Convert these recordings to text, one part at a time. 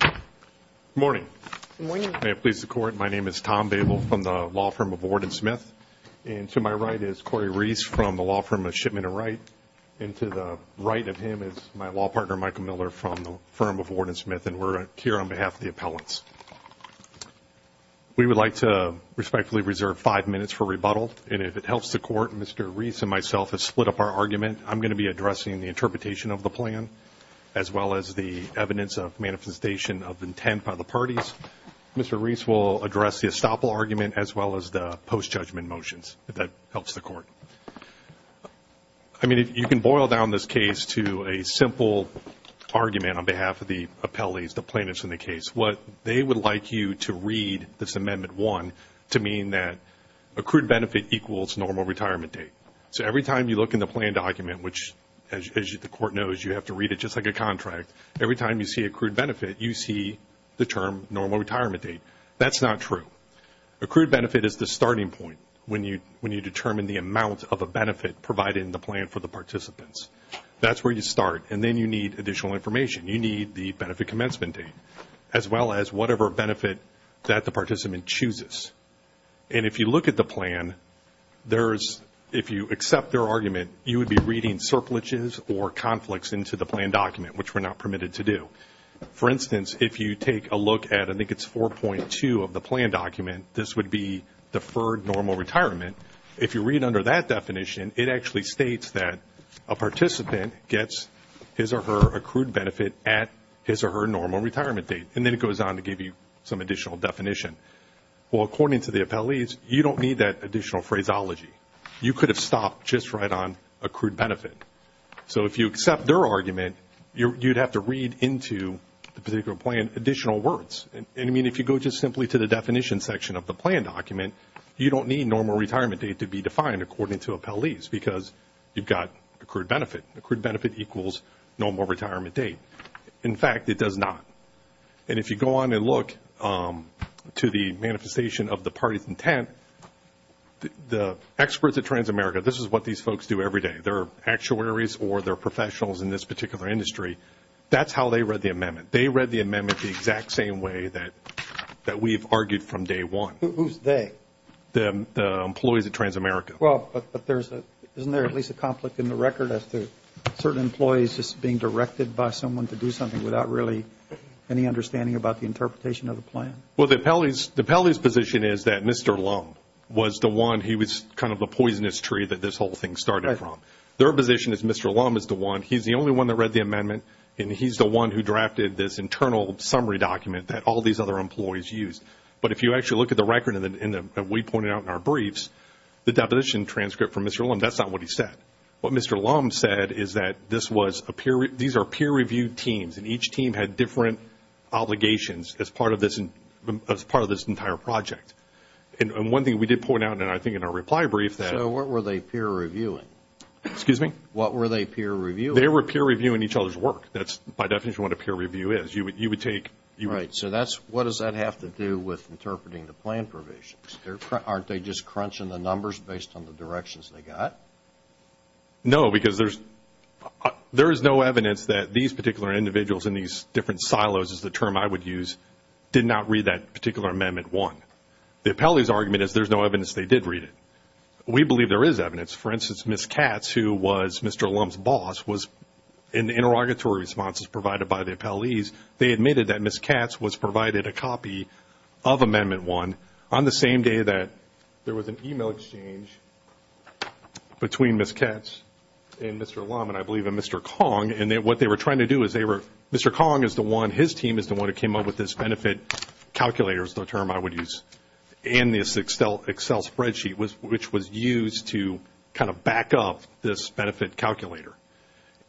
Good morning. May it please the Court, my name is Tom Babel from the law firm of Ward and Smith, and to my right is Corey Reese from the law firm of Shipment and Write, and to the right of him is my law partner Michael Miller from the firm of Ward and Smith, and we're here on behalf of the appellants. We would like to respectfully reserve five minutes for rebuttal, and if it helps the Court, Mr. Reese and myself have split up our argument. I'm going to be addressing the interpretation of the plan, as well as the evidence of manifestation of intent by the parties. Mr. Reese will address the estoppel argument, as well as the post-judgment motions, if that helps the Court. I mean, you can boil down this case to a simple argument on behalf of the appellees, the plaintiffs in the case. It's what they would like you to read, this Amendment 1, to mean that accrued benefit equals normal retirement date. So every time you look in the plan document, which, as the Court knows, you have to read it just like a contract, every time you see accrued benefit, you see the term normal retirement date. That's not true. Accrued benefit is the starting point when you determine the amount of a benefit provided in the plan for the participants. That's where you start, and then you need additional information. You need the benefit commencement date, as well as whatever benefit that the participant chooses. And if you look at the plan, if you accept their argument, you would be reading surplishes or conflicts into the plan document, which we're not permitted to do. For instance, if you take a look at, I think it's 4.2 of the plan document, this would be deferred normal retirement. If you read under that definition, it actually states that a participant gets his or her accrued benefit at his or her normal retirement date, and then it goes on to give you some additional definition. Well, according to the appellees, you don't need that additional phraseology. You could have stopped just right on accrued benefit. So if you accept their argument, you'd have to read into the particular plan additional words. I mean, if you go just simply to the definition section of the plan document, you don't need normal retirement date to be defined according to appellees because you've got accrued benefit. Accrued benefit equals normal retirement date. In fact, it does not. And if you go on and look to the manifestation of the party's intent, the experts at Transamerica, this is what these folks do every day. They're actuaries or they're professionals in this particular industry. That's how they read the amendment. They read the amendment the exact same way that we've argued from day one. Who's they? The employees at Transamerica. Well, but isn't there at least a conflict in the record as to certain employees just being directed by someone to do something without really any understanding about the interpretation of the plan? Well, the appellee's position is that Mr. Lum was the one. He was kind of the poisonous tree that this whole thing started from. Their position is Mr. Lum is the one. He's the only one that read the amendment, and he's the one who drafted this internal summary document that all these other employees used. But if you actually look at the record that we pointed out in our briefs, the deposition transcript from Mr. Lum, that's not what he said. What Mr. Lum said is that these are peer-reviewed teams, and each team had different obligations as part of this entire project. And one thing we did point out, and I think in our reply brief, that... So what were they peer-reviewing? Excuse me? What were they peer-reviewing? They were peer-reviewing each other's work. That's by definition what a peer-review is. You would take... Right. So what does that have to do with interpreting the plan provisions? Aren't they just crunching the numbers based on the directions they got? No, because there is no evidence that these particular individuals in these different silos, is the term I would use, did not read that particular amendment one. The appellee's argument is there's no evidence they did read it. We believe there is evidence. For instance, Ms. Katz, who was Mr. Lum's boss, was... In the interrogatory responses provided by the appellees, they admitted that Ms. Katz was provided a copy of amendment one on the same day that there was an email exchange between Ms. Katz and Mr. Lum, and I believe a Mr. Kong. And what they were trying to do is they were... Mr. Kong is the one, his team is the one who came up with this benefit calculator, is the term I would use, and this Excel spreadsheet, which was used to kind of back up this benefit calculator.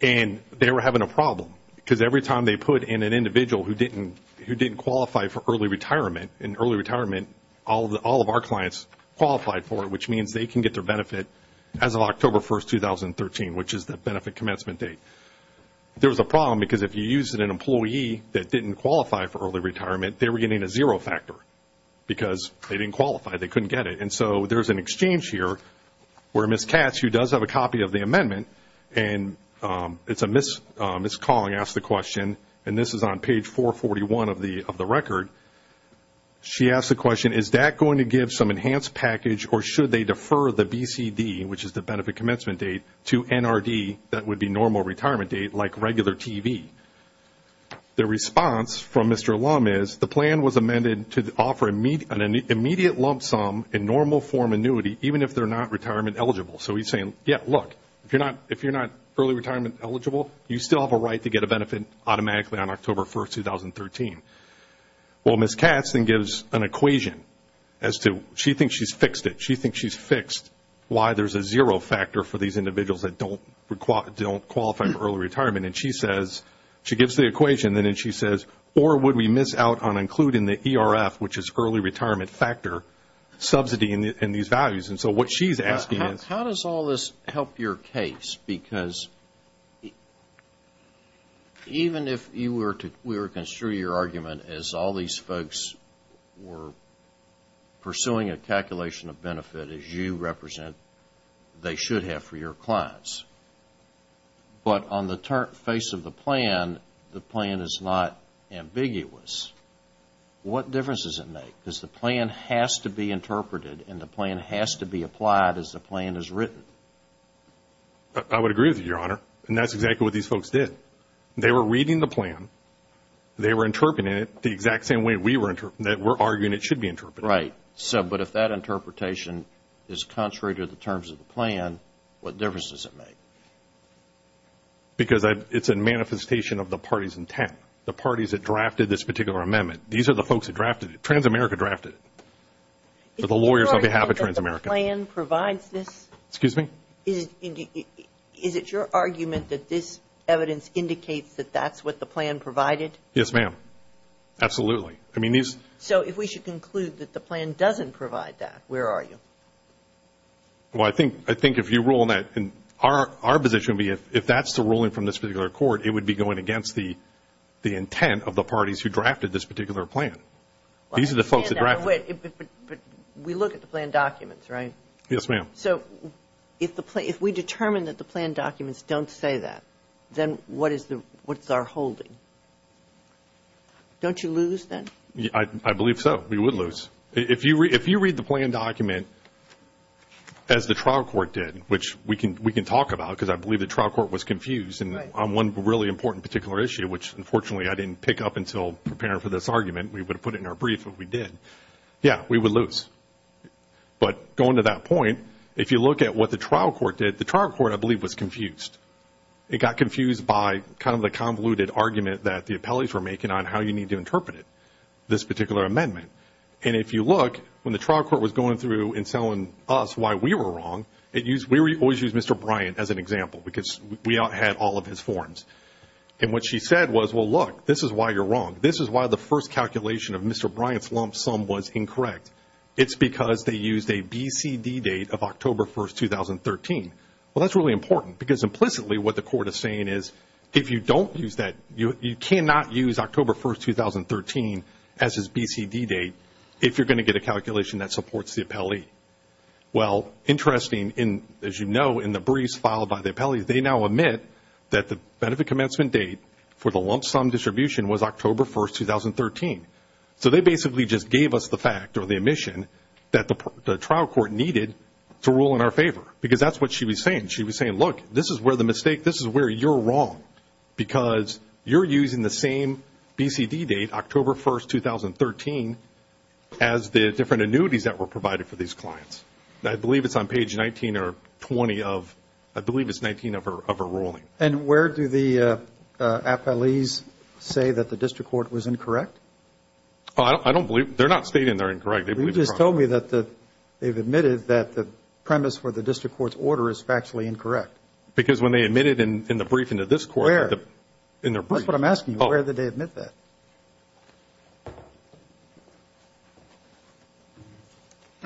And they were having a problem, because every time they put in an individual who didn't qualify for early retirement, in early retirement, all of our clients qualified for it, which means they can get their benefit as of October 1, 2013, which is the benefit commencement date. There was a problem, because if you used an employee that didn't qualify for early retirement, they were getting a zero factor, because they didn't qualify, they couldn't get it. And so there's an exchange here where Ms. Katz, who does have a copy of the amendment, and it's a Ms. Kong asked the question, and this is on page 441 of the record. She asked the question, is that going to give some enhanced package, or should they defer the BCD, which is the benefit commencement date, to NRD, that would be normal retirement date, like regular TV? The response from Mr. Lum is, the plan was amended to offer an immediate lump sum in normal form annuity, even if they're not retirement eligible. So he's saying, yeah, look, if you're not early retirement eligible, you still have a right to get a benefit automatically on October 1, 2013. Well, Ms. Katz then gives an equation as to, she thinks she's fixed it. She thinks she's fixed why there's a zero factor for these individuals that don't qualify for early retirement. And she says, she gives the equation, and then she says, or would we miss out on including the ERF, which is early retirement factor, subsidy in these values? And so what she's asking is... How does all this help your case? Because even if we were to construe your argument as all these folks were pursuing a calculation of benefit as you represent they should have for your clients, but on the face of the plan, the plan is not ambiguous, what difference does it make? Because the plan has to be interpreted and the plan has to be applied as the plan is written. I would agree with you, Your Honor. And that's exactly what these folks did. They were reading the plan. They were interpreting it the exact same way that we're arguing it should be interpreted. Right. But if that interpretation is contrary to the terms of the plan, what difference does it make? Because it's a manifestation of the party's intent. The parties that drafted this particular amendment. These are the folks that drafted it. Transamerica drafted it. The lawyers on behalf of Transamerica. Excuse me? Is it your argument that this evidence indicates that that's what the plan provided? Yes, ma'am. Absolutely. So if we should conclude that the plan doesn't provide that, where are you? Well, I think if you rule in that, our position would be if that's the ruling from this particular court, it would be going against the intent of the parties who drafted this particular plan. These are the folks that drafted it. But we look at the plan documents, right? Yes, ma'am. So if we determine that the plan documents don't say that, then what is our holding? Don't you lose then? I believe so. We would lose. If you read the plan document as the trial court did, which we can talk about, because I believe the trial court was confused on one really important particular issue, which, unfortunately, I didn't pick up until preparing for this argument. We would have put it in our brief if we did. Yeah, we would lose. But going to that point, if you look at what the trial court did, the trial court, I believe, was confused. It got confused by kind of the convoluted argument that the appellees were making on how you need to interpret it, this particular amendment. And if you look, when the trial court was going through and telling us why we were wrong, we always used Mr. Bryant as an example because we had all of his forms. And what she said was, well, look, this is why you're wrong. This is why the first calculation of Mr. Bryant's lump sum was incorrect. It's because they used a BCD date of October 1, 2013. Well, that's really important because implicitly what the court is saying is if you don't use that, you cannot use October 1, 2013 as his BCD date if you're going to get a calculation that supports the appellee. Well, interesting, as you know, in the briefs filed by the appellees, they now admit that the benefit commencement date for the lump sum distribution was October 1, 2013. So they basically just gave us the fact or the admission that the trial court needed to rule in our favor because that's what she was saying. She was saying, look, this is where the mistake, this is where you're wrong because you're using the same BCD date, October 1, 2013, as the different annuities that were provided for these clients. I believe it's on page 19 or 20 of, I believe it's 19 of her ruling. And where do the appellees say that the district court was incorrect? I don't believe, they're not stating they're incorrect. They just told me that they've admitted that the premise for the district court's order is factually incorrect. Because when they admitted in the briefing to this court. Where? In their brief. That's what I'm asking you. Where did they admit that?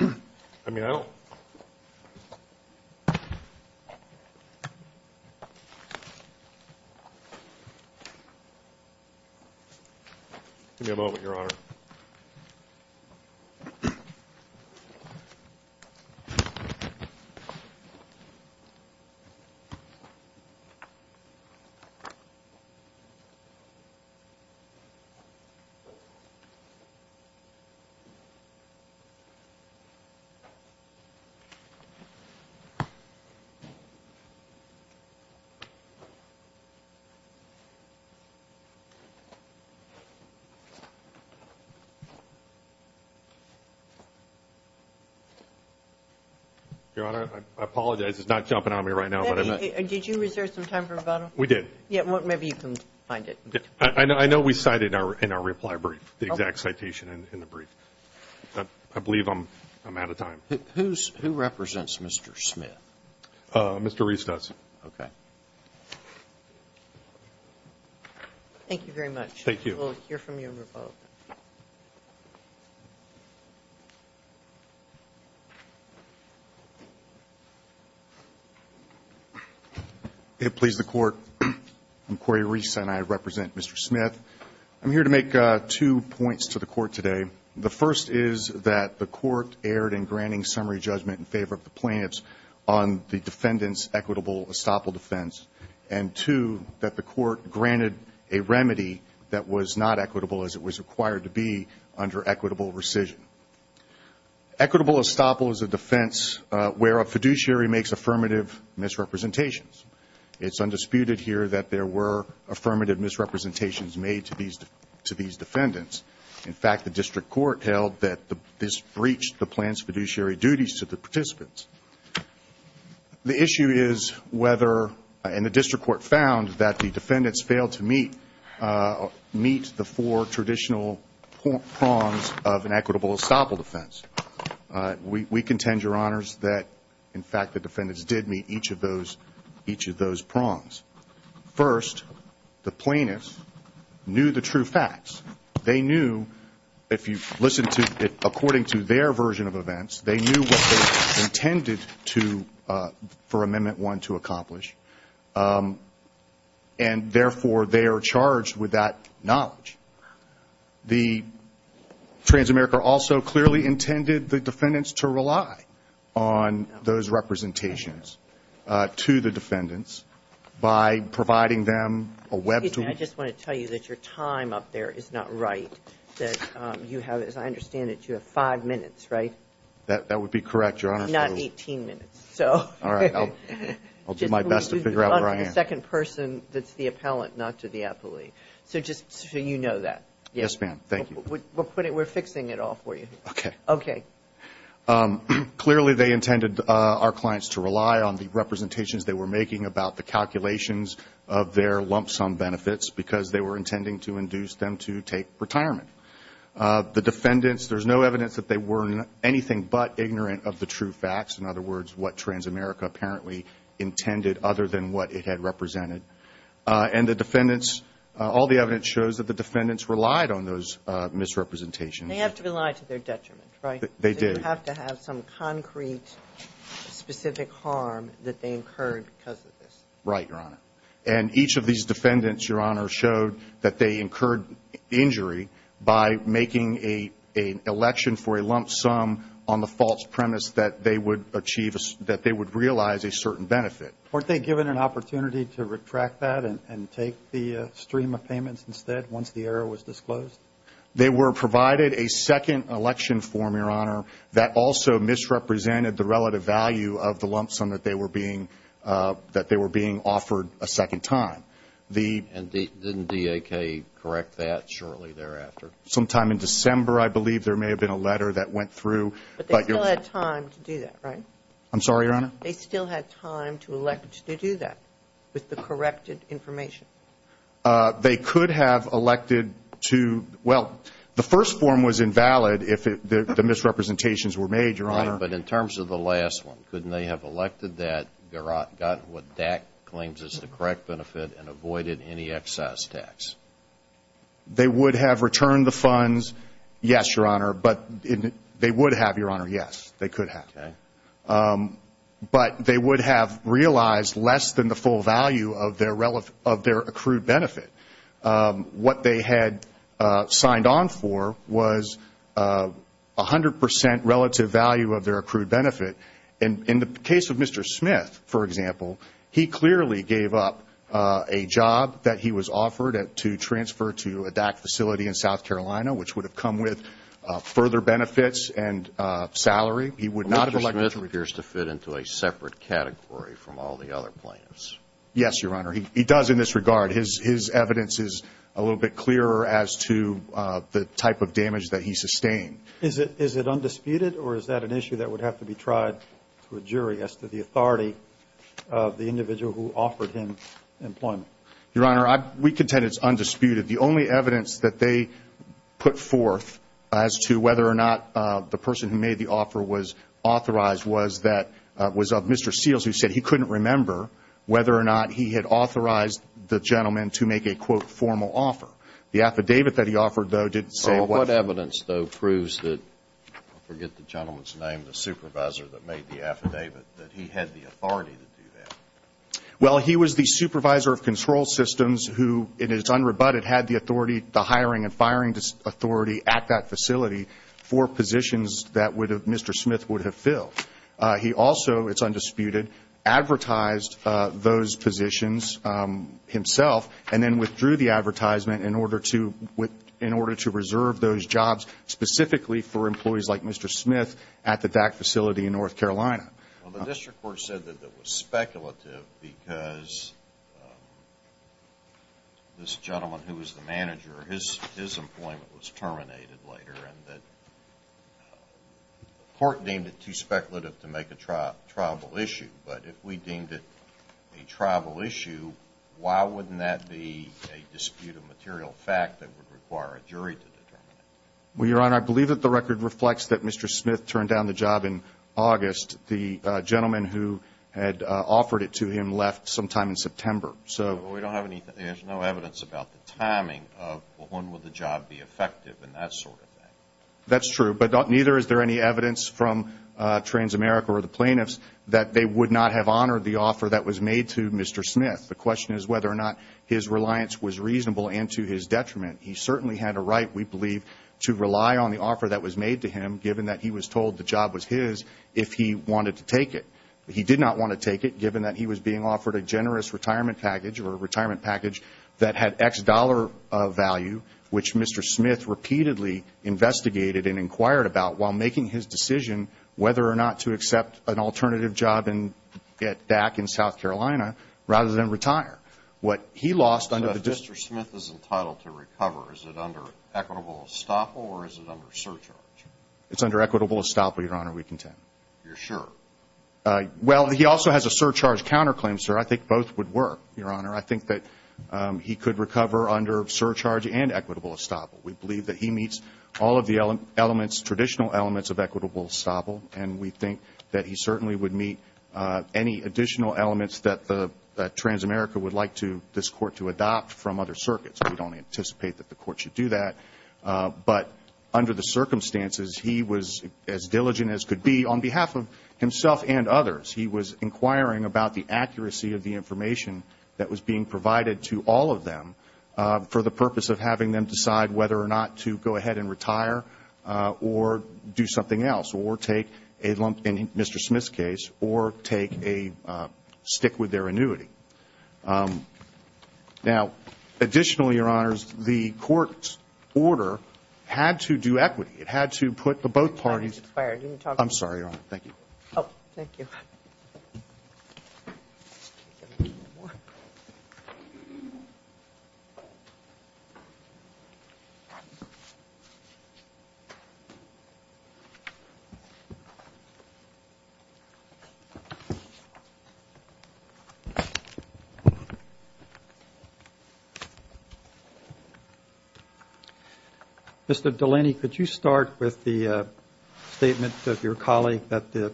I mean, I don't. Give me a moment, Your Honor. Your Honor, I apologize, it's not jumping on me right now. Did you reserve some time for rebuttal? We did. Maybe you can find it. I know we cited in our reply brief the exact citation in the brief. I believe I'm out of time. Who represents Mr. Smith? Mr. Reese does. Okay. Thank you very much. Thank you. We'll hear from you in rebuttal. It please the Court, I'm Corey Reese and I represent Mr. Smith. I'm here to make two points to the Court today. The first is that the Court erred in granting summary judgment in favor of the plaintiffs on the defendant's equitable estoppel defense. And two, that the Court granted a remedy that was not equitable as it was required to be under equitable rescission. Equitable estoppel is a defense where a fiduciary makes affirmative misrepresentations. It's undisputed here that there were affirmative misrepresentations made to these defendants. In fact, the District Court held that this breached the plaintiff's fiduciary duties to the participants. The issue is whether, and the District Court found, that the defendants failed to meet the four traditional prongs of an equitable estoppel defense. We contend, Your Honors, that, in fact, the defendants did meet each of those prongs. First, the plaintiffs knew the true facts. They knew, if you listen to, according to their version of events, they knew what they intended to, for Amendment 1, to accomplish. And, therefore, they are charged with that knowledge. The Transamerica also clearly intended the defendants to rely on those representations to the defendants by providing them a web tool. Excuse me. I just want to tell you that your time up there is not right. That you have, as I understand it, you have five minutes, right? That would be correct, Your Honor. Not 18 minutes. All right. I'll do my best to figure out where I am. The second person that's the appellant, not to the appellee. So just so you know that. Yes, ma'am. Thank you. We're fixing it all for you. Okay. Okay. Clearly, they intended our clients to rely on the representations they were making about the calculations of their lump sum benefits because they were intending to induce them to take retirement. The defendants, there's no evidence that they were anything but ignorant of the true facts, in other words, what Transamerica apparently intended other than what it had represented. And the defendants, all the evidence shows that the defendants relied on those misrepresentations. They have to rely to their detriment, right? They do. They have to have some concrete, specific harm that they incurred because of this. Right, Your Honor. And each of these defendants, Your Honor, showed that they incurred injury by making an election for a lump sum on the false premise that they would realize a certain benefit. Weren't they given an opportunity to retract that and take the stream of payments instead once the error was disclosed? They were provided a second election form, Your Honor, that also misrepresented the relative value of the lump sum that they were being offered a second time. And didn't DAK correct that shortly thereafter? Sometime in December, I believe. There may have been a letter that went through. But they still had time to do that, right? I'm sorry, Your Honor? They still had time to elect to do that with the corrected information? They could have elected to, well, the first form was invalid if the misrepresentations were made, Your Honor. Right, but in terms of the last one, couldn't they have elected that, gotten what DAK claims is the correct benefit and avoided any excess tax? They would have returned the funds, yes, Your Honor, but they would have, Your Honor, yes. They could have. Okay. But they would have realized less than the full value of their accrued benefit. What they had signed on for was 100 percent relative value of their accrued benefit. In the case of Mr. Smith, for example, he clearly gave up a job that he was offered to transfer to a DAK facility in South Carolina, which would have come with further benefits and salary. But Mr. Smith appears to fit into a separate category from all the other plaintiffs. Yes, Your Honor. He does in this regard. His evidence is a little bit clearer as to the type of damage that he sustained. Is it undisputed or is that an issue that would have to be tried to a jury as to the authority of the individual who offered him employment? Your Honor, we contend it's undisputed. The only evidence that they put forth as to whether or not the person who made the offer was authorized was of Mr. Seals, who said he couldn't remember whether or not he had authorized the gentleman to make a, quote, formal offer. The affidavit that he offered, though, didn't say what. What evidence, though, proves that, I forget the gentleman's name, the supervisor that made the affidavit, that he had the authority to do that? Well, he was the supervisor of control systems who, in its unrebutted, had the authority, the hiring and firing authority at that facility for positions that Mr. Smith would have filled. He also, it's undisputed, advertised those positions himself and then withdrew the advertisement in order to reserve those jobs specifically for employees like Mr. Smith at the DAC facility in North Carolina. Well, the district court said that that was speculative because this gentleman, who was the manager, his employment was terminated later and that the court deemed it too speculative to make a triable issue. But if we deemed it a triable issue, why wouldn't that be a disputed material fact that would require a jury to determine it? Well, Your Honor, I believe that the record reflects that Mr. Smith turned down the job in August. The gentleman who had offered it to him left sometime in September. Well, there's no evidence about the timing of when would the job be effective and that sort of thing. That's true, but neither is there any evidence from Transamerica or the plaintiffs that they would not have honored the offer that was made to Mr. Smith. The question is whether or not his reliance was reasonable and to his detriment. He certainly had a right, we believe, to rely on the offer that was made to him, if he wanted to take it. He did not want to take it, given that he was being offered a generous retirement package or a retirement package that had X dollar value, which Mr. Smith repeatedly investigated and inquired about while making his decision whether or not to accept an alternative job at DAC in South Carolina rather than retire. What he lost under the district... But if Mr. Smith is entitled to recover, is it under equitable estoppel or is it under surcharge? It's under equitable estoppel, Your Honor. We contend. You're sure? Well, he also has a surcharge counterclaim, sir. I think both would work, Your Honor. I think that he could recover under surcharge and equitable estoppel. We believe that he meets all of the elements, traditional elements of equitable estoppel, and we think that he certainly would meet any additional elements that Transamerica would like this court to adopt from other circuits. We don't anticipate that the court should do that. But under the circumstances, he was as diligent as could be on behalf of himself and others. He was inquiring about the accuracy of the information that was being provided to all of them for the purpose of having them decide whether or not to go ahead and retire or do something else or take a lump in Mr. Smith's case or take a stick with their annuity. Now, additionally, Your Honors, the court's order had to do equity. It had to put the both parties. I'm sorry, Your Honor. Thank you. Oh, thank you. Thank you. Mr. Delaney, could you start with the statement of your colleague that the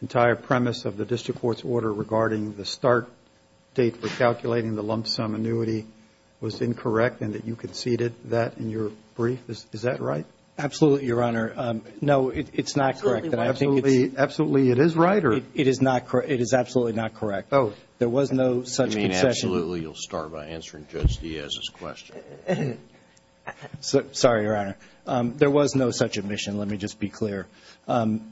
entire premise of the district court's order regarding the start date for calculating the lump sum annuity was incorrect and that you conceded that in your brief? Is that right? Absolutely, Your Honor. No, it's not correct. Absolutely it is right? It is absolutely not correct. Oh. There was no such concession. You mean absolutely you'll start by answering Judge Diaz's question? Sorry, Your Honor. There was no such admission. Let me just be clear. And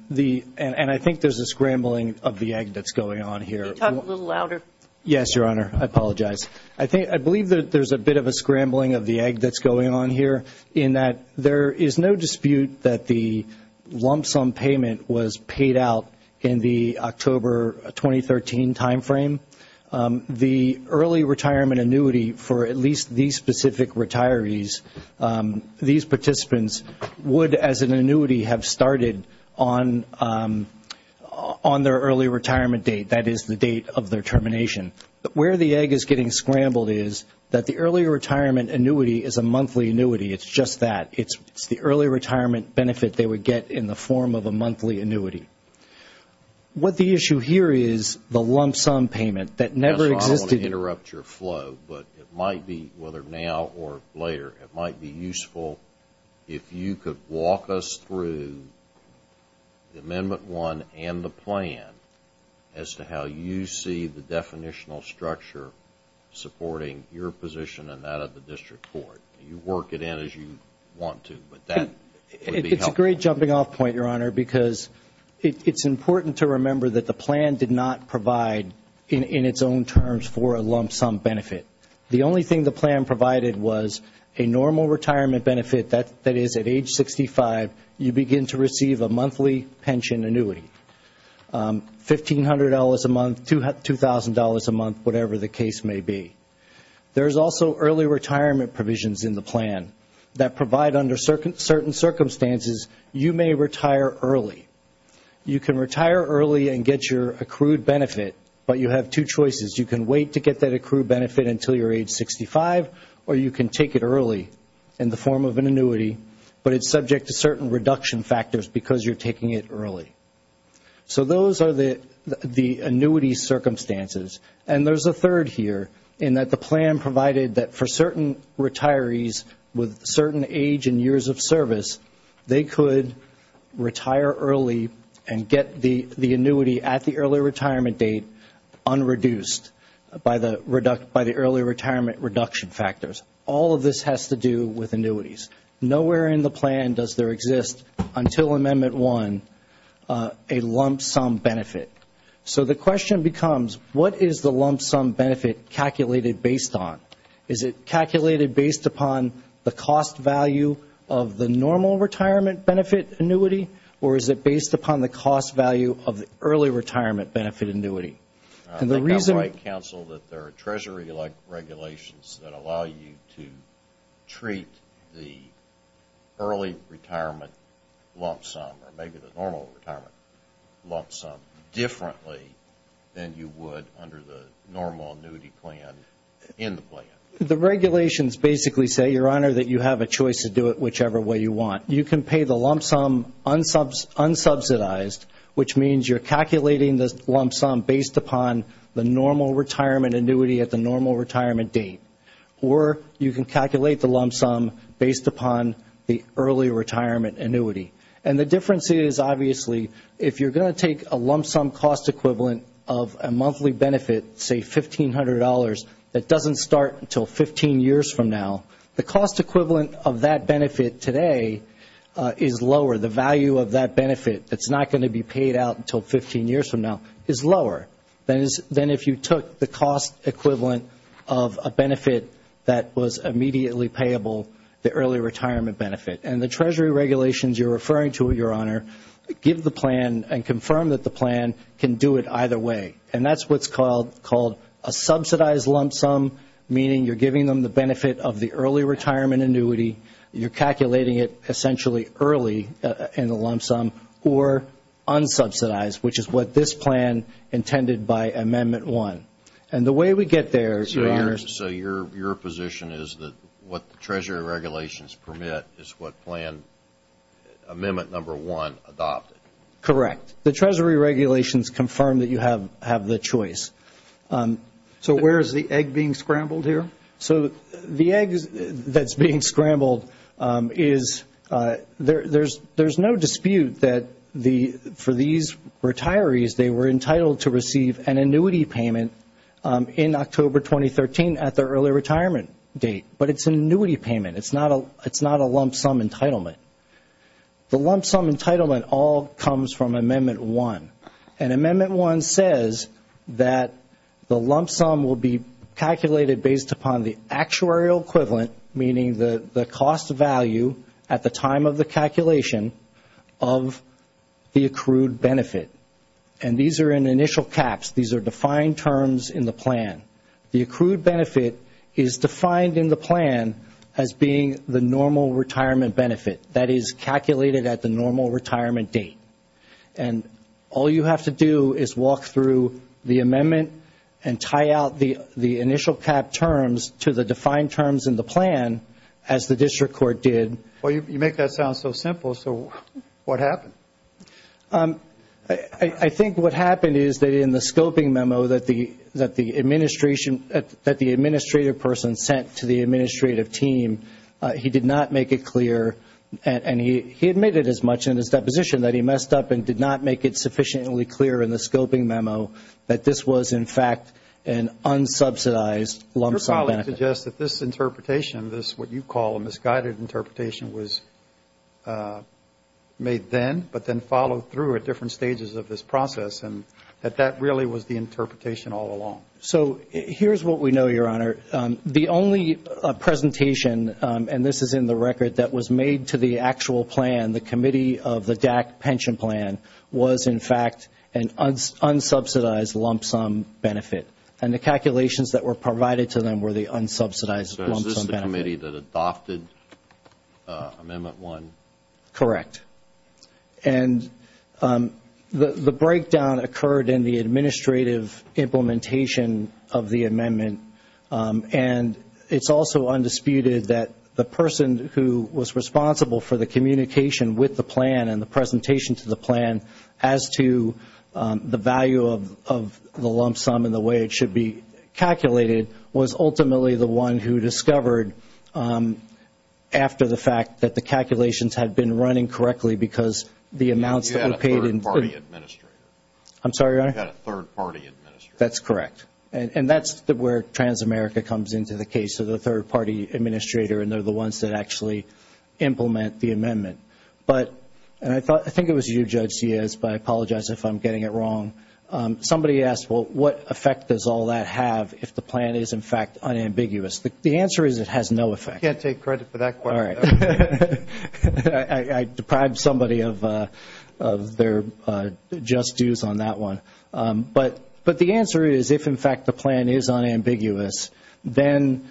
I think there's a scrambling of the egg that's going on here. Can you talk a little louder? Yes, Your Honor. I apologize. I believe that there's a bit of a scrambling of the egg that's going on here in that there is no dispute that the lump sum payment was paid out in the October 2013 timeframe. The early retirement annuity for at least these specific retirees, these participants would as an annuity have started on their early retirement date. That is the date of their termination. Where the egg is getting scrambled is that the early retirement annuity is a monthly annuity. It's just that. It's the early retirement benefit they would get in the form of a monthly annuity. What the issue here is the lump sum payment that never existed. Yes, Your Honor. I don't want to interrupt your flow, but it might be, whether now or later, it might be useful if you could walk us through Amendment 1 and the plan as to how you see the definitional structure supporting your position and that of the district court. You work it in as you want to, but that would be helpful. It's a great jumping off point, Your Honor, because it's important to remember that the plan did not provide in its own terms for a lump sum benefit. The only thing the plan provided was a normal retirement benefit, that is, at age 65, you begin to receive a monthly pension annuity, $1,500 a month, $2,000 a month, whatever the case may be. There's also early retirement provisions in the plan that provide under certain circumstances, you may retire early. You can retire early and get your accrued benefit, but you have two choices. You can wait to get that accrued benefit until you're age 65, or you can take it early in the form of an annuity, but it's subject to certain reduction factors because you're taking it early. So those are the annuity circumstances. And there's a third here in that the plan provided that for certain retirees with certain age and years of service, they could retire early and get the annuity at the early retirement date unreduced by the early retirement reduction factors. All of this has to do with annuities. Nowhere in the plan does there exist, until Amendment 1, a lump sum benefit. So the question becomes, what is the lump sum benefit calculated based on? Is it calculated based upon the cost value of the normal retirement benefit annuity, or is it based upon the cost value of the early retirement benefit annuity? I think I might counsel that there are Treasury-like regulations that allow you to treat the early retirement lump sum or maybe the normal retirement lump sum differently than you would under the normal annuity plan in the plan. The regulations basically say, Your Honor, that you have a choice to do it whichever way you want. You can pay the lump sum unsubsidized, which means you're calculating the lump sum based upon the normal retirement annuity at the normal retirement date, or you can calculate the lump sum based upon the early retirement annuity. And the difference is, obviously, if you're going to take a lump sum cost equivalent of a monthly benefit, say $1,500, that doesn't start until 15 years from now, the cost equivalent of that benefit today is lower. The value of that benefit that's not going to be paid out until 15 years from now is lower than if you took the cost equivalent of a benefit that was immediately payable, the early retirement benefit. And the Treasury regulations you're referring to, Your Honor, give the plan and confirm that the plan can do it either way. And that's what's called a subsidized lump sum, meaning you're giving them the benefit of the early retirement annuity, you're calculating it essentially early in the lump sum, or unsubsidized, which is what this plan intended by Amendment 1. And the way we get there, Your Honor – So your position is that what the Treasury regulations permit is what Amendment 1 adopted? Correct. The Treasury regulations confirm that you have the choice. So where is the egg being scrambled here? So the egg that's being scrambled is – there's no dispute that for these retirees, they were entitled to receive an annuity payment in October 2013 at their early retirement date. But it's an annuity payment. It's not a lump sum entitlement. The lump sum entitlement all comes from Amendment 1. And Amendment 1 says that the lump sum will be calculated based upon the actuarial equivalent, meaning the cost value at the time of the calculation of the accrued benefit. And these are in initial caps. These are defined terms in the plan. The accrued benefit is defined in the plan as being the normal retirement benefit. That is calculated at the normal retirement date. and tie out the initial cap terms to the defined terms in the plan as the district court did. Well, you make that sound so simple. So what happened? I think what happened is that in the scoping memo that the administration – that the administrative person sent to the administrative team, he did not make it clear and he admitted as much in his deposition that he messed up and did not make it sufficiently clear in the scoping memo that this was, in fact, an unsubsidized lump sum benefit. Your colleague suggests that this interpretation, this what you call a misguided interpretation, was made then but then followed through at different stages of this process and that that really was the interpretation all along. So here's what we know, Your Honor. The only presentation, and this is in the record, that was made to the actual plan, the committee of the DAC pension plan, was, in fact, an unsubsidized lump sum benefit. And the calculations that were provided to them were the unsubsidized lump sum benefit. So is this the committee that adopted Amendment 1? Correct. And the breakdown occurred in the administrative implementation of the amendment. And it's also undisputed that the person who was responsible for the communication with the plan and the presentation to the plan as to the value of the lump sum and the way it should be calculated was ultimately the one who discovered, after the fact, that the calculations had been running correctly because the amounts that were paid in – You had a third-party administrator. I'm sorry, Your Honor? You had a third-party administrator. That's correct. And that's where Transamerica comes into the case, so the third-party administrator, and they're the ones that actually implement the amendment. And I think it was you, Judge Ciaz, but I apologize if I'm getting it wrong. Somebody asked, well, what effect does all that have if the plan is, in fact, unambiguous? The answer is it has no effect. You can't take credit for that question. All right. I deprived somebody of their just dues on that one. But the answer is if, in fact, the plan is unambiguous, then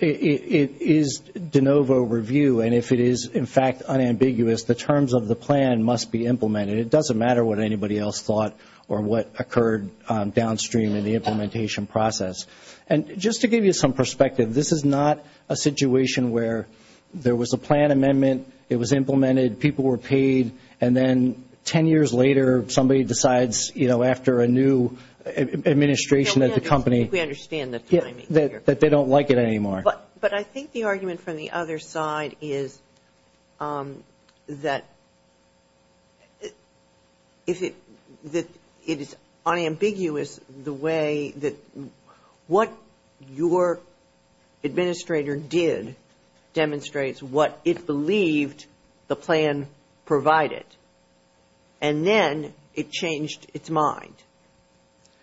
it is de novo review, and if it is, in fact, unambiguous, the terms of the plan must be implemented. It doesn't matter what anybody else thought or what occurred downstream in the implementation process. And just to give you some perspective, this is not a situation where there was a plan amendment, it was implemented, people were paid, and then ten years later somebody decides, you know, after a new administration of the company. We understand the timing here. That they don't like it anymore. But I think the argument from the other side is that if it is unambiguous, the way that what your administrator did demonstrates what it believed the plan provided. And then it changed its mind.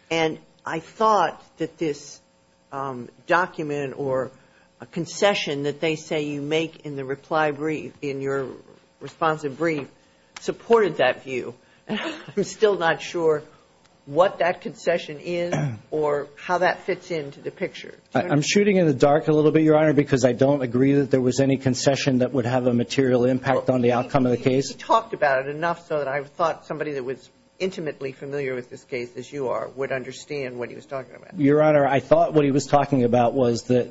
And I thought that this document or a concession that they say you make in the reply brief, in your responsive brief, supported that view. I'm still not sure what that concession is or how that fits into the picture. I'm shooting in the dark a little bit, Your Honor, because I don't agree that there was any concession that would have a material impact on the outcome of the case. He talked about it enough so that I thought somebody that was intimately familiar with this case, as you are, would understand what he was talking about. Your Honor, I thought what he was talking about was that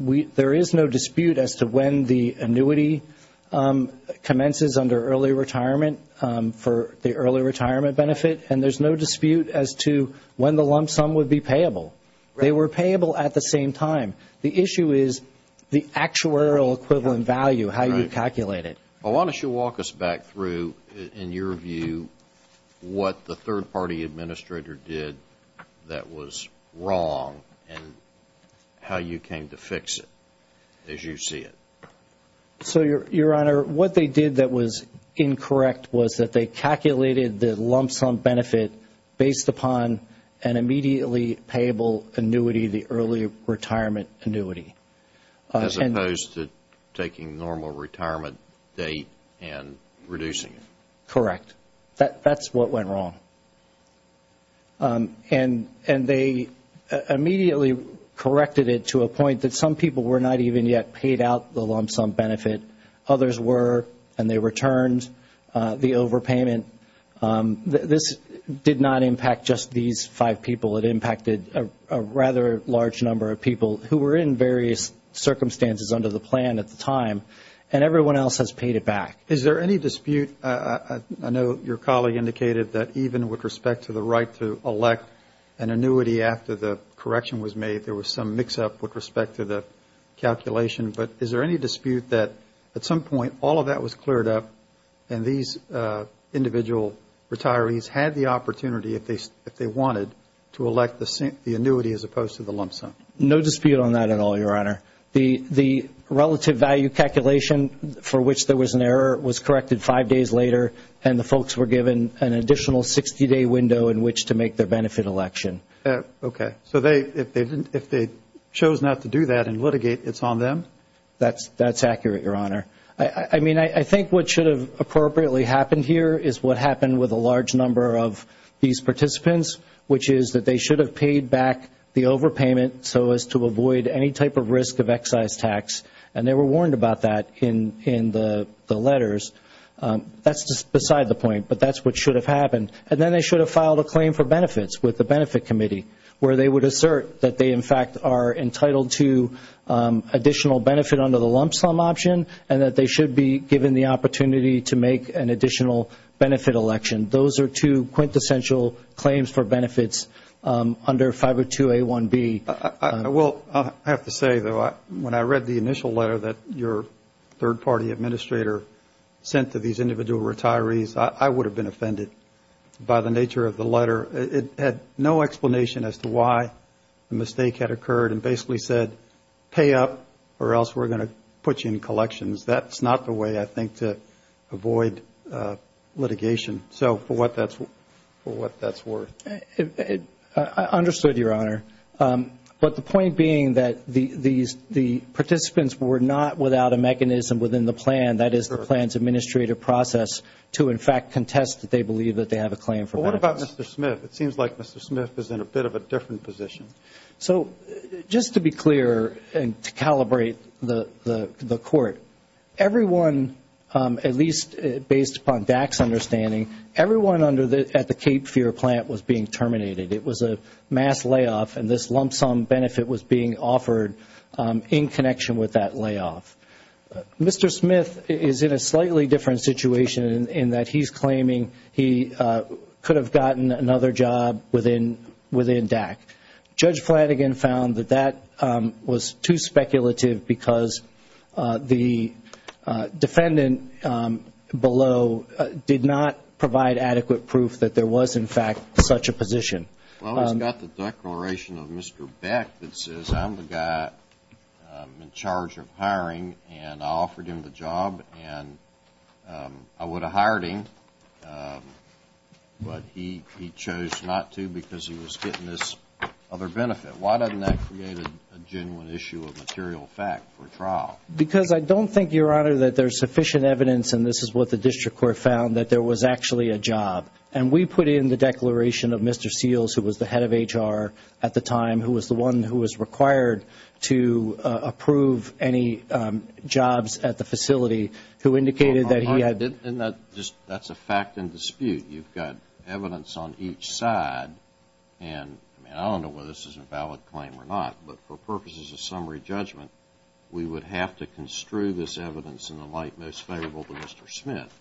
there is no dispute as to when the annuity commences under early retirement for the early retirement benefit. And there's no dispute as to when the lump sum would be payable. They were payable at the same time. The issue is the actuarial equivalent value, how you calculate it. Why don't you walk us back through, in your view, what the third-party administrator did that was wrong and how you came to fix it as you see it. So, Your Honor, what they did that was incorrect was that they calculated the lump sum benefit based upon an immediately payable annuity, the early retirement annuity. As opposed to taking normal retirement date and reducing it. Correct. That's what went wrong. And they immediately corrected it to a point that some people were not even yet paid out the lump sum benefit. Others were, and they returned the overpayment. This did not impact just these five people. It impacted a rather large number of people who were in various circumstances under the plan at the time. And everyone else has paid it back. Is there any dispute? I know your colleague indicated that even with respect to the right to elect an annuity after the correction was made, there was some mix-up with respect to the calculation. But is there any dispute that at some point all of that was cleared up and these individual retirees had the opportunity, if they wanted, to elect the annuity as opposed to the lump sum? No dispute on that at all, Your Honor. The relative value calculation for which there was an error was corrected five days later, and the folks were given an additional 60-day window in which to make their benefit election. Okay. So if they chose not to do that and litigate, it's on them? That's accurate, Your Honor. I mean, I think what should have appropriately happened here is what happened with a large number of these participants, which is that they should have paid back the overpayment so as to avoid any type of risk of excise tax, and they were warned about that in the letters. That's beside the point, but that's what should have happened. And then they should have filed a claim for benefits with the Benefit Committee, where they would assert that they, in fact, are entitled to additional benefit under the lump sum option and that they should be given the opportunity to make an additional benefit election. Those are two quintessential claims for benefits under 502A1B. Well, I have to say, though, when I read the initial letter that your third-party administrator sent to these individual retirees, I would have been offended by the nature of the letter. It had no explanation as to why the mistake had occurred and basically said pay up or else we're going to put you in collections. That's not the way, I think, to avoid litigation. So for what that's worth. I understood, Your Honor. But the point being that the participants were not without a mechanism within the plan, that is the plan's administrative process, to, in fact, contest that they believe that they have a claim for benefits. Well, what about Mr. Smith? It seems like Mr. Smith is in a bit of a different position. So just to be clear and to calibrate the court, everyone, at least based upon DAC's understanding, everyone at the Cape Fear plant was being terminated. It was a mass layoff and this lump sum benefit was being offered in connection with that layoff. Mr. Smith is in a slightly different situation in that he's claiming he could have gotten another job within DAC. Judge Flanagan found that that was too speculative because the defendant below did not provide adequate proof that there was, in fact, such a position. Well, he's got the declaration of Mr. Beck that says I'm the guy in charge of hiring and I offered him the job and I would have hired him, but he chose not to because he was getting this other benefit. Why doesn't that create a genuine issue of material fact for trial? Because I don't think, Your Honor, that there's sufficient evidence, and this is what the district court found, that there was actually a job. And we put in the declaration of Mr. Seals, who was the head of HR at the time, who was the one who was required to approve any jobs at the facility, who indicated that he had... And that's a fact and dispute. You've got evidence on each side, and I don't know whether this is a valid claim or not, but for purposes of summary judgment, we would have to construe this evidence in the light most favorable to Mr. Smith.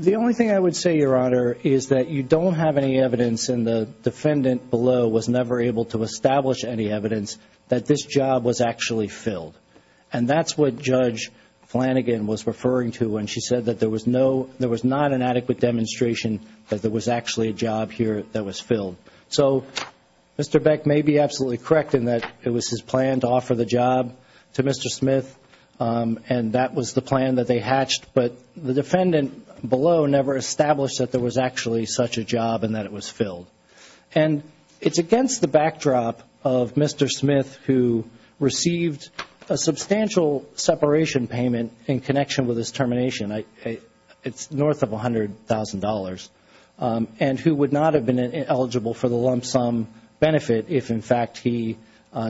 The only thing I would say, Your Honor, is that you don't have any evidence, and the defendant below was never able to establish any evidence that this job was actually filled. And that's what Judge Flanagan was referring to when she said that there was not an adequate demonstration that there was actually a job here that was filled. So Mr. Beck may be absolutely correct in that it was his plan to offer the job to Mr. Smith, and that was the plan that they hatched, but the defendant below never established that there was actually such a job and that it was filled. And it's against the backdrop of Mr. Smith, who received a substantial separation payment in connection with his termination. It's north of $100,000. And who would not have been eligible for the lump sum benefit if, in fact, he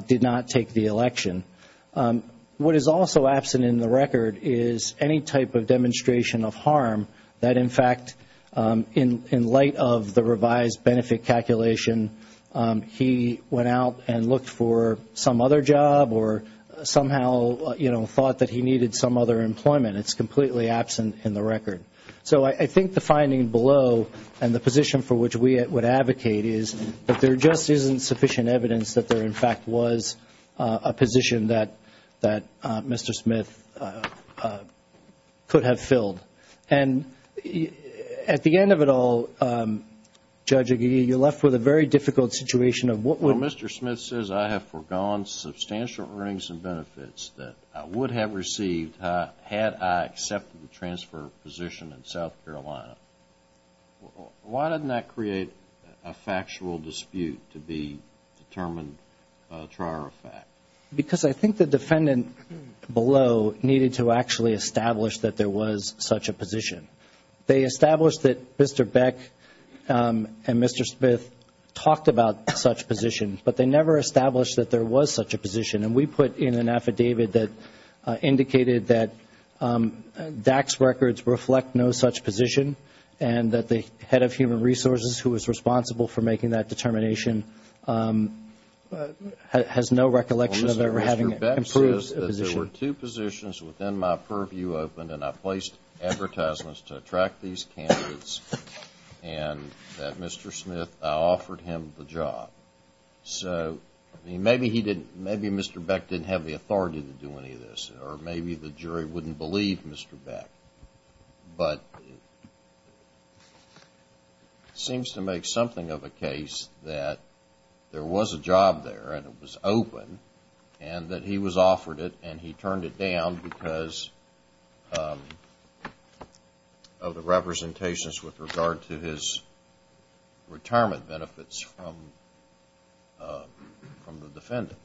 did not take the election. What is also absent in the record is any type of demonstration of harm that, in fact, in light of the revised benefit calculation, he went out and looked for some other job or somehow thought that he needed some other employment. It's completely absent in the record. So I think the finding below and the position for which we would advocate is that there just isn't sufficient evidence that there, in fact, was a position that Mr. Smith could have filled. And at the end of it all, Judge Aguirre, you're left with a very difficult situation of what would... Well, Mr. Smith says I have forgone substantial earnings and benefits that I would have received had I accepted the transfer position in South Carolina. Why doesn't that create a factual dispute to be determined prior to fact? Because I think the defendant below needed to actually establish that there was such a position. They established that Mr. Beck and Mr. Smith talked about such positions, but they never established that there was such a position. And we put in an affidavit that indicated that DAC's records reflect no such position and that the head of Human Resources, who was responsible for making that determination, has no recollection of ever having improved a position. Well, listen, Mr. Beck says that there were two positions within my purview opened and I placed advertisements to attract these candidates and that Mr. Smith, I offered him the job. So maybe Mr. Beck didn't have the authority to do any of this, or maybe the jury wouldn't believe Mr. Beck. But it seems to make something of a case that there was a job there and it was open and that he was offered it and he turned it down because of the representations with regard to his retirement benefits from the defendant.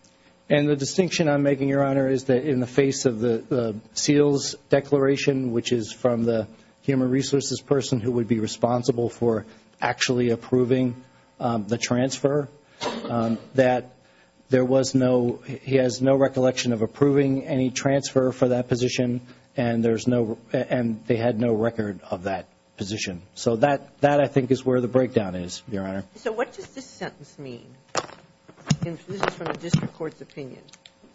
And the distinction I'm making, Your Honor, is that in the face of the seals declaration, which is from the Human Resources person who would be responsible for actually approving the transfer, that there was no, he has no recollection of approving any transfer for that position and they had no record of that position. So that, I think, is where the breakdown is, Your Honor. So what does this sentence mean? This is from the district court's opinion.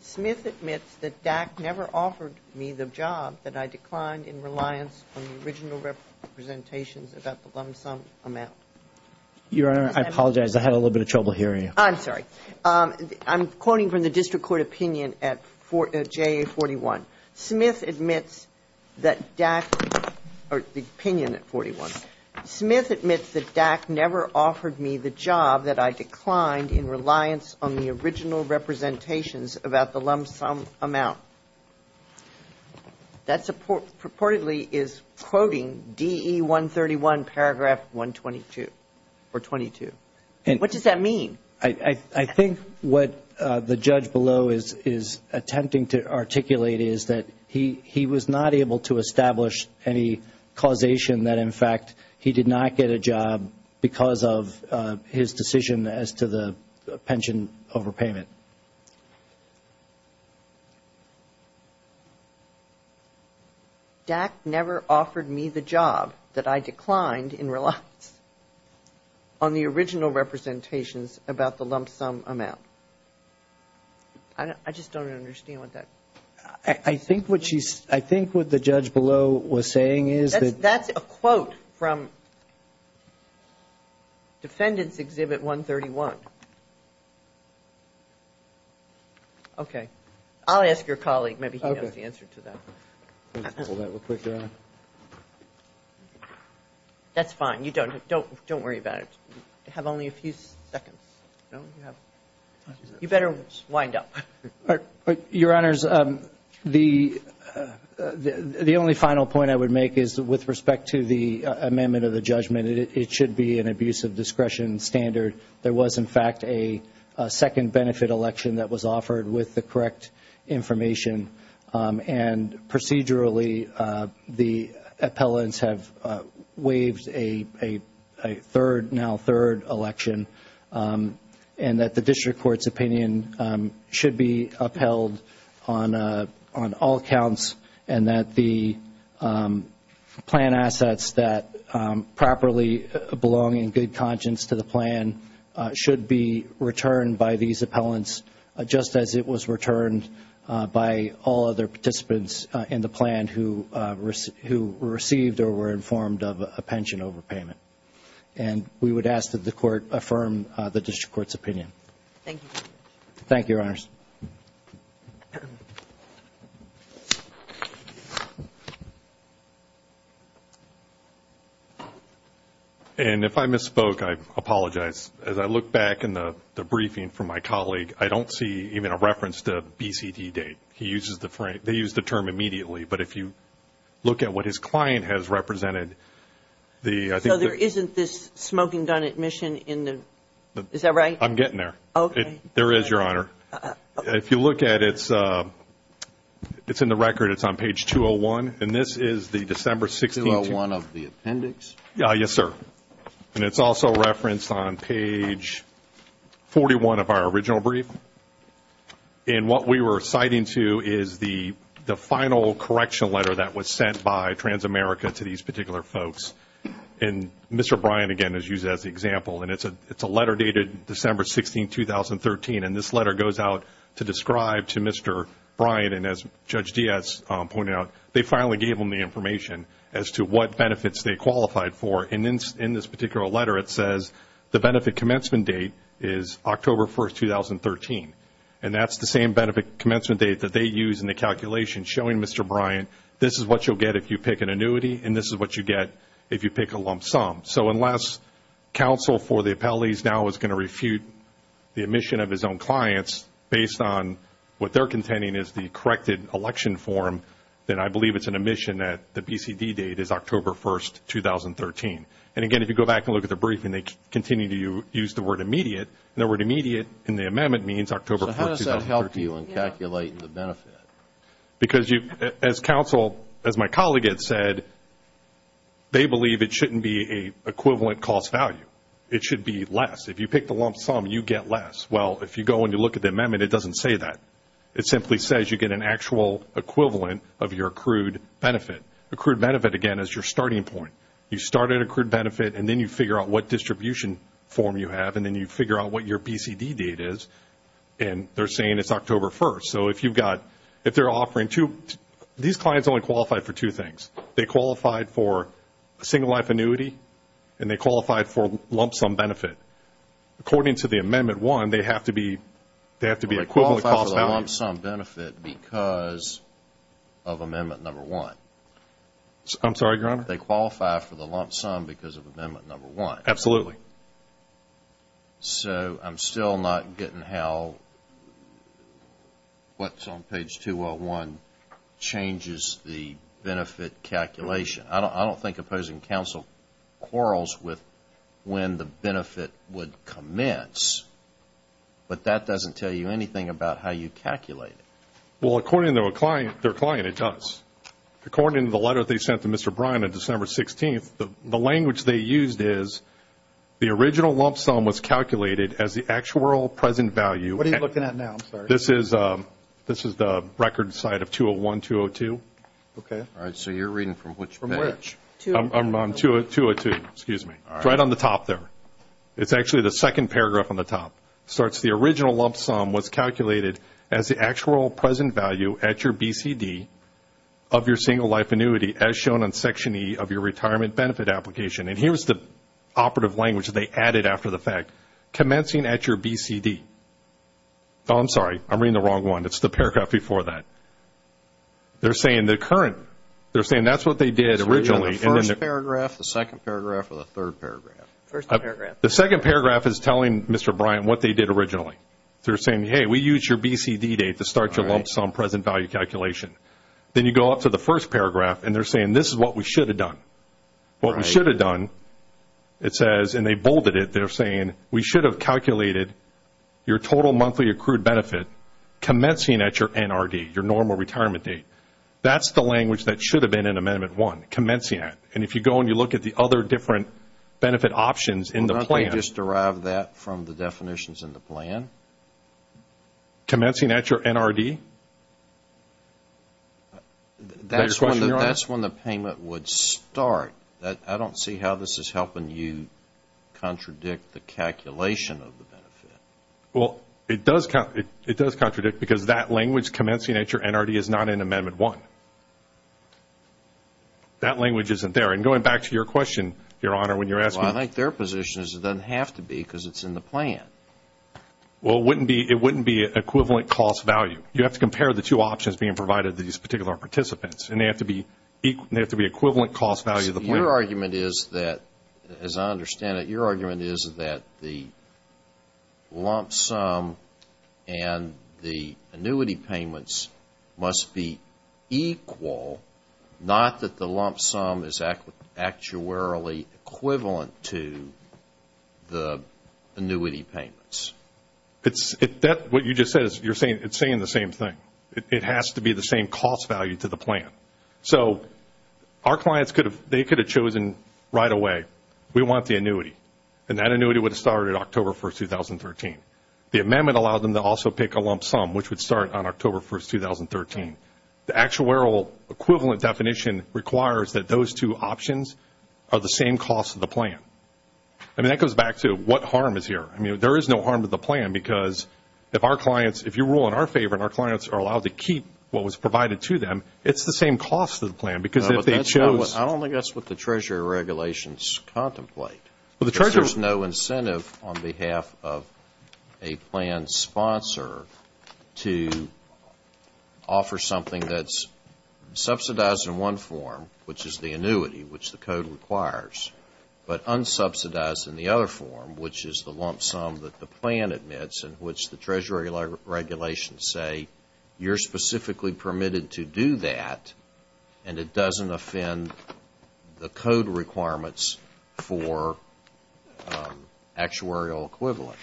Smith admits that DAC never offered me the job, that I declined in reliance on the original representations about the lump sum amount. Your Honor, I apologize. I had a little bit of trouble hearing you. I'm sorry. I'm quoting from the district court opinion at JA-41. Smith admits that DAC, or the opinion at 41, Smith admits that DAC never offered me the job, that I declined in reliance on the original representations about the lump sum amount. That purportedly is quoting DE-131 paragraph 122, or 22. What does that mean? I think what the judge below is attempting to articulate is that he was not able to establish any causation that, in fact, he did not get a job because of his decision as to the pension overpayment. DAC never offered me the job, that I declined in reliance on the original representations about the lump sum amount. I just don't understand what that means. I think what she's – I think what the judge below was saying is that – Okay. I'll ask your colleague. Maybe he knows the answer to that. Okay. Let me just pull that real quick, Your Honor. That's fine. You don't – don't worry about it. You have only a few seconds. No? You better wind up. Your Honors, the only final point I would make is with respect to the amendment of the judgment, it should be an abuse of discretion standard. There was, in fact, a second benefit election that was offered with the correct information, and procedurally the appellants have waived a third, now third, election, and that the district court's opinion should be upheld on all counts and that the plan assets that properly belong in good conscience to the plan should be returned by these appellants just as it was returned by all other participants in the plan who received or were informed of a pension overpayment. And we would ask that the court affirm the district court's opinion. Thank you. Thank you, Your Honors. Thank you. And if I misspoke, I apologize. As I look back in the briefing from my colleague, I don't see even a reference to BCT date. He uses the – they use the term immediately. But if you look at what his client has represented, the – So there isn't this smoking gun admission in the – is that right? I'm getting there. Okay. There is, Your Honor. If you look at it, it's in the record. It's on page 201. And this is the December 16th – 201 of the appendix? Yes, sir. And it's also referenced on page 41 of our original brief. And what we were citing to is the final correctional letter that was sent by Transamerica to these particular folks. And Mr. Bryan, again, has used it as the example. And it's a letter dated December 16th, 2013. And this letter goes out to describe to Mr. Bryan, and as Judge Diaz pointed out, they finally gave him the information as to what benefits they qualified for. And in this particular letter, it says the benefit commencement date is October 1st, 2013. And that's the same benefit commencement date that they use in the calculation, showing Mr. Bryan this is what you'll get if you pick an annuity, and this is what you get if you pick a lump sum. So unless counsel for the appellees now is going to refute the admission of his own clients based on what they're contending is the corrected election form, then I believe it's an admission that the BCD date is October 1st, 2013. And, again, if you go back and look at the briefing, they continue to use the word immediate, and the word immediate in the amendment means October 1st, 2013. So how does that help you in calculating the benefit? Because as counsel, as my colleague had said, they believe it shouldn't be an equivalent cost value. It should be less. If you pick the lump sum, you get less. Well, if you go and you look at the amendment, it doesn't say that. It simply says you get an actual equivalent of your accrued benefit. Accrued benefit, again, is your starting point. You start at accrued benefit, and then you figure out what distribution form you have, and then you figure out what your BCD date is, and they're saying it's October 1st. So if you've got, if they're offering two, these clients only qualify for two things. They qualify for a single life annuity, and they qualify for lump sum benefit. According to the amendment one, they have to be equivalent cost value. They qualify for the lump sum benefit because of amendment number one. I'm sorry, Your Honor? They qualify for the lump sum because of amendment number one. Absolutely. So I'm still not getting how what's on page 201 changes the benefit calculation. I don't think opposing counsel quarrels with when the benefit would commence, but that doesn't tell you anything about how you calculate it. Well, according to their client, it does. According to the letter they sent to Mr. Bryan on December 16th, the language they used is the original lump sum was calculated as the actual present value. What are you looking at now? I'm sorry. This is the record side of 201-202. Okay. All right. So you're reading from which page? From which? 202. Excuse me. It's right on the top there. It's actually the second paragraph on the top. It starts, the original lump sum was calculated as the actual present value at your BCD of your single life annuity as shown in section E of your retirement benefit application. And here's the operative language they added after the fact. Commencing at your BCD. Oh, I'm sorry. I'm reading the wrong one. It's the paragraph before that. They're saying the current, they're saying that's what they did originally. The first paragraph, the second paragraph, or the third paragraph? First paragraph. The second paragraph is telling Mr. Bryan what they did originally. They're saying, hey, we used your BCD date to start your lump sum present value calculation. Then you go up to the first paragraph, and they're saying this is what we should have done. What we should have done, it says, and they bolded it. They're saying we should have calculated your total monthly accrued benefit commencing at your NRD, your normal retirement date. That's the language that should have been in Amendment 1, commencing at. And if you go and you look at the other different benefit options in the plan. Did you just derive that from the definitions in the plan? Commencing at your NRD? That's when the payment would start. I don't see how this is helping you contradict the calculation of the benefit. Well, it does contradict because that language, commencing at your NRD, is not in Amendment 1. That language isn't there. And going back to your question, Your Honor, when you're asking. Well, I think their position is it doesn't have to be because it's in the plan. Well, it wouldn't be equivalent cost value. You have to compare the two options being provided to these particular participants, and they have to be equivalent cost value of the plan. Your argument is that, as I understand it, your argument is that the lump sum and the annuity payments must be equal, not that the lump sum is actuarially equivalent to the annuity payments. What you just said, it's saying the same thing. It has to be the same cost value to the plan. So our clients, they could have chosen right away, we want the annuity. And that annuity would have started October 1, 2013. The amendment allowed them to also pick a lump sum, which would start on October 1, 2013. The actuarial equivalent definition requires that those two options are the same cost of the plan. I mean, that goes back to what harm is here. I mean, there is no harm to the plan because if our clients, if you rule in our favor and our clients are allowed to keep what was provided to them, it's the same cost of the plan because if they chose. I don't think that's what the Treasury regulations contemplate. There's no incentive on behalf of a plan sponsor to offer something that's subsidized in one form, which is the annuity, which the code requires, but unsubsidized in the other form, which is the lump sum that the plan admits and which the Treasury regulations say you're specifically permitted to do that and it doesn't offend the code requirements for actuarial equivalent.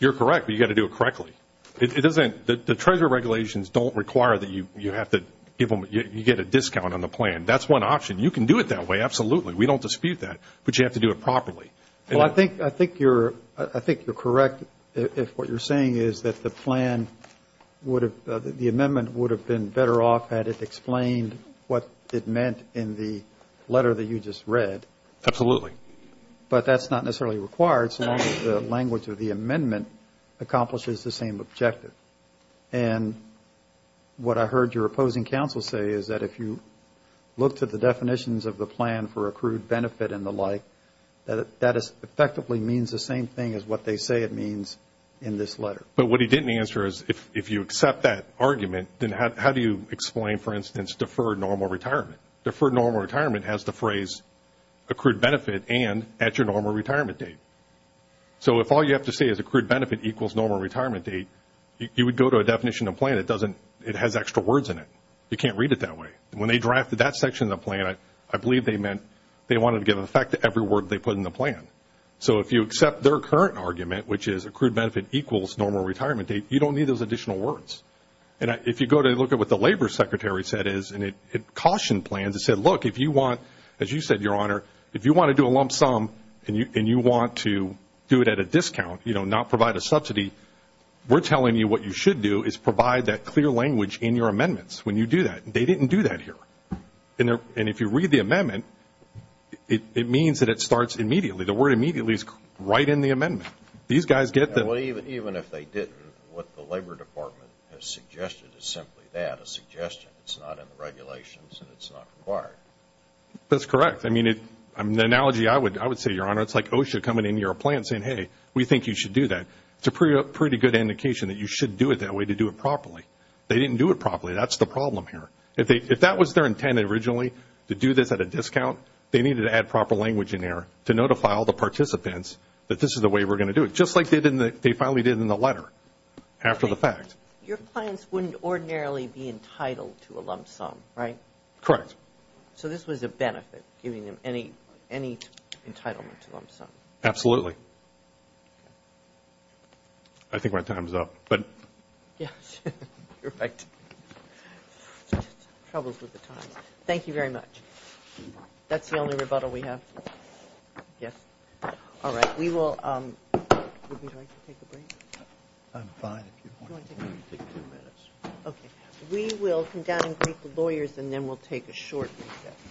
You're correct, but you've got to do it correctly. The Treasury regulations don't require that you get a discount on the plan. That's one option. You can do it that way, absolutely. We don't dispute that, but you have to do it properly. Well, I think you're correct if what you're saying is that the plan would have, the amendment would have been better off had it explained what it meant in the letter that you just read. Absolutely. But that's not necessarily required so long as the language of the amendment accomplishes the same objective. And what I heard your opposing counsel say is that if you look to the definitions of the plan for accrued benefit and the like, that effectively means the same thing as what they say it means in this letter. But what he didn't answer is if you accept that argument, then how do you explain, for instance, deferred normal retirement? Deferred normal retirement has the phrase accrued benefit and at your normal retirement date. So if all you have to say is accrued benefit equals normal retirement date, you would go to a definition of plan that doesn't, it has extra words in it. You can't read it that way. When they drafted that section of the plan, I believe they meant they wanted to give effect to every word they put in the plan. So if you accept their current argument, which is accrued benefit equals normal retirement date, you don't need those additional words. And if you go to look at what the Labor Secretary said is, and it cautioned plans, it said, look, if you want, as you said, Your Honor, if you want to do a lump sum and you want to do it at a discount, you know, not provide a subsidy, we're telling you what you should do is provide that clear language in your amendments when you do that. They didn't do that here. And if you read the amendment, it means that it starts immediately. The word immediately is right in the amendment. These guys get that. Well, even if they didn't, what the Labor Department has suggested is simply that, a suggestion. It's not in the regulations and it's not required. That's correct. I mean, the analogy I would say, Your Honor, it's like OSHA coming into your plan saying, hey, we think you should do that. It's a pretty good indication that you should do it that way to do it properly. They didn't do it properly. That's the problem here. If that was their intent originally, to do this at a discount, they needed to add proper language in there to notify all the participants that this is the way we're going to do it, just like they finally did in the letter after the fact. Your clients wouldn't ordinarily be entitled to a lump sum, right? Correct. So this was a benefit, giving them any entitlement to a lump sum? Absolutely. I think my time is up. Yes, you're right. Troubles with the time. Thank you very much. That's the only rebuttal we have? Yes. All right. We will take a break. I'm fine if you want to take two minutes. Okay. We will come down and greet the lawyers and then we'll take a short recess.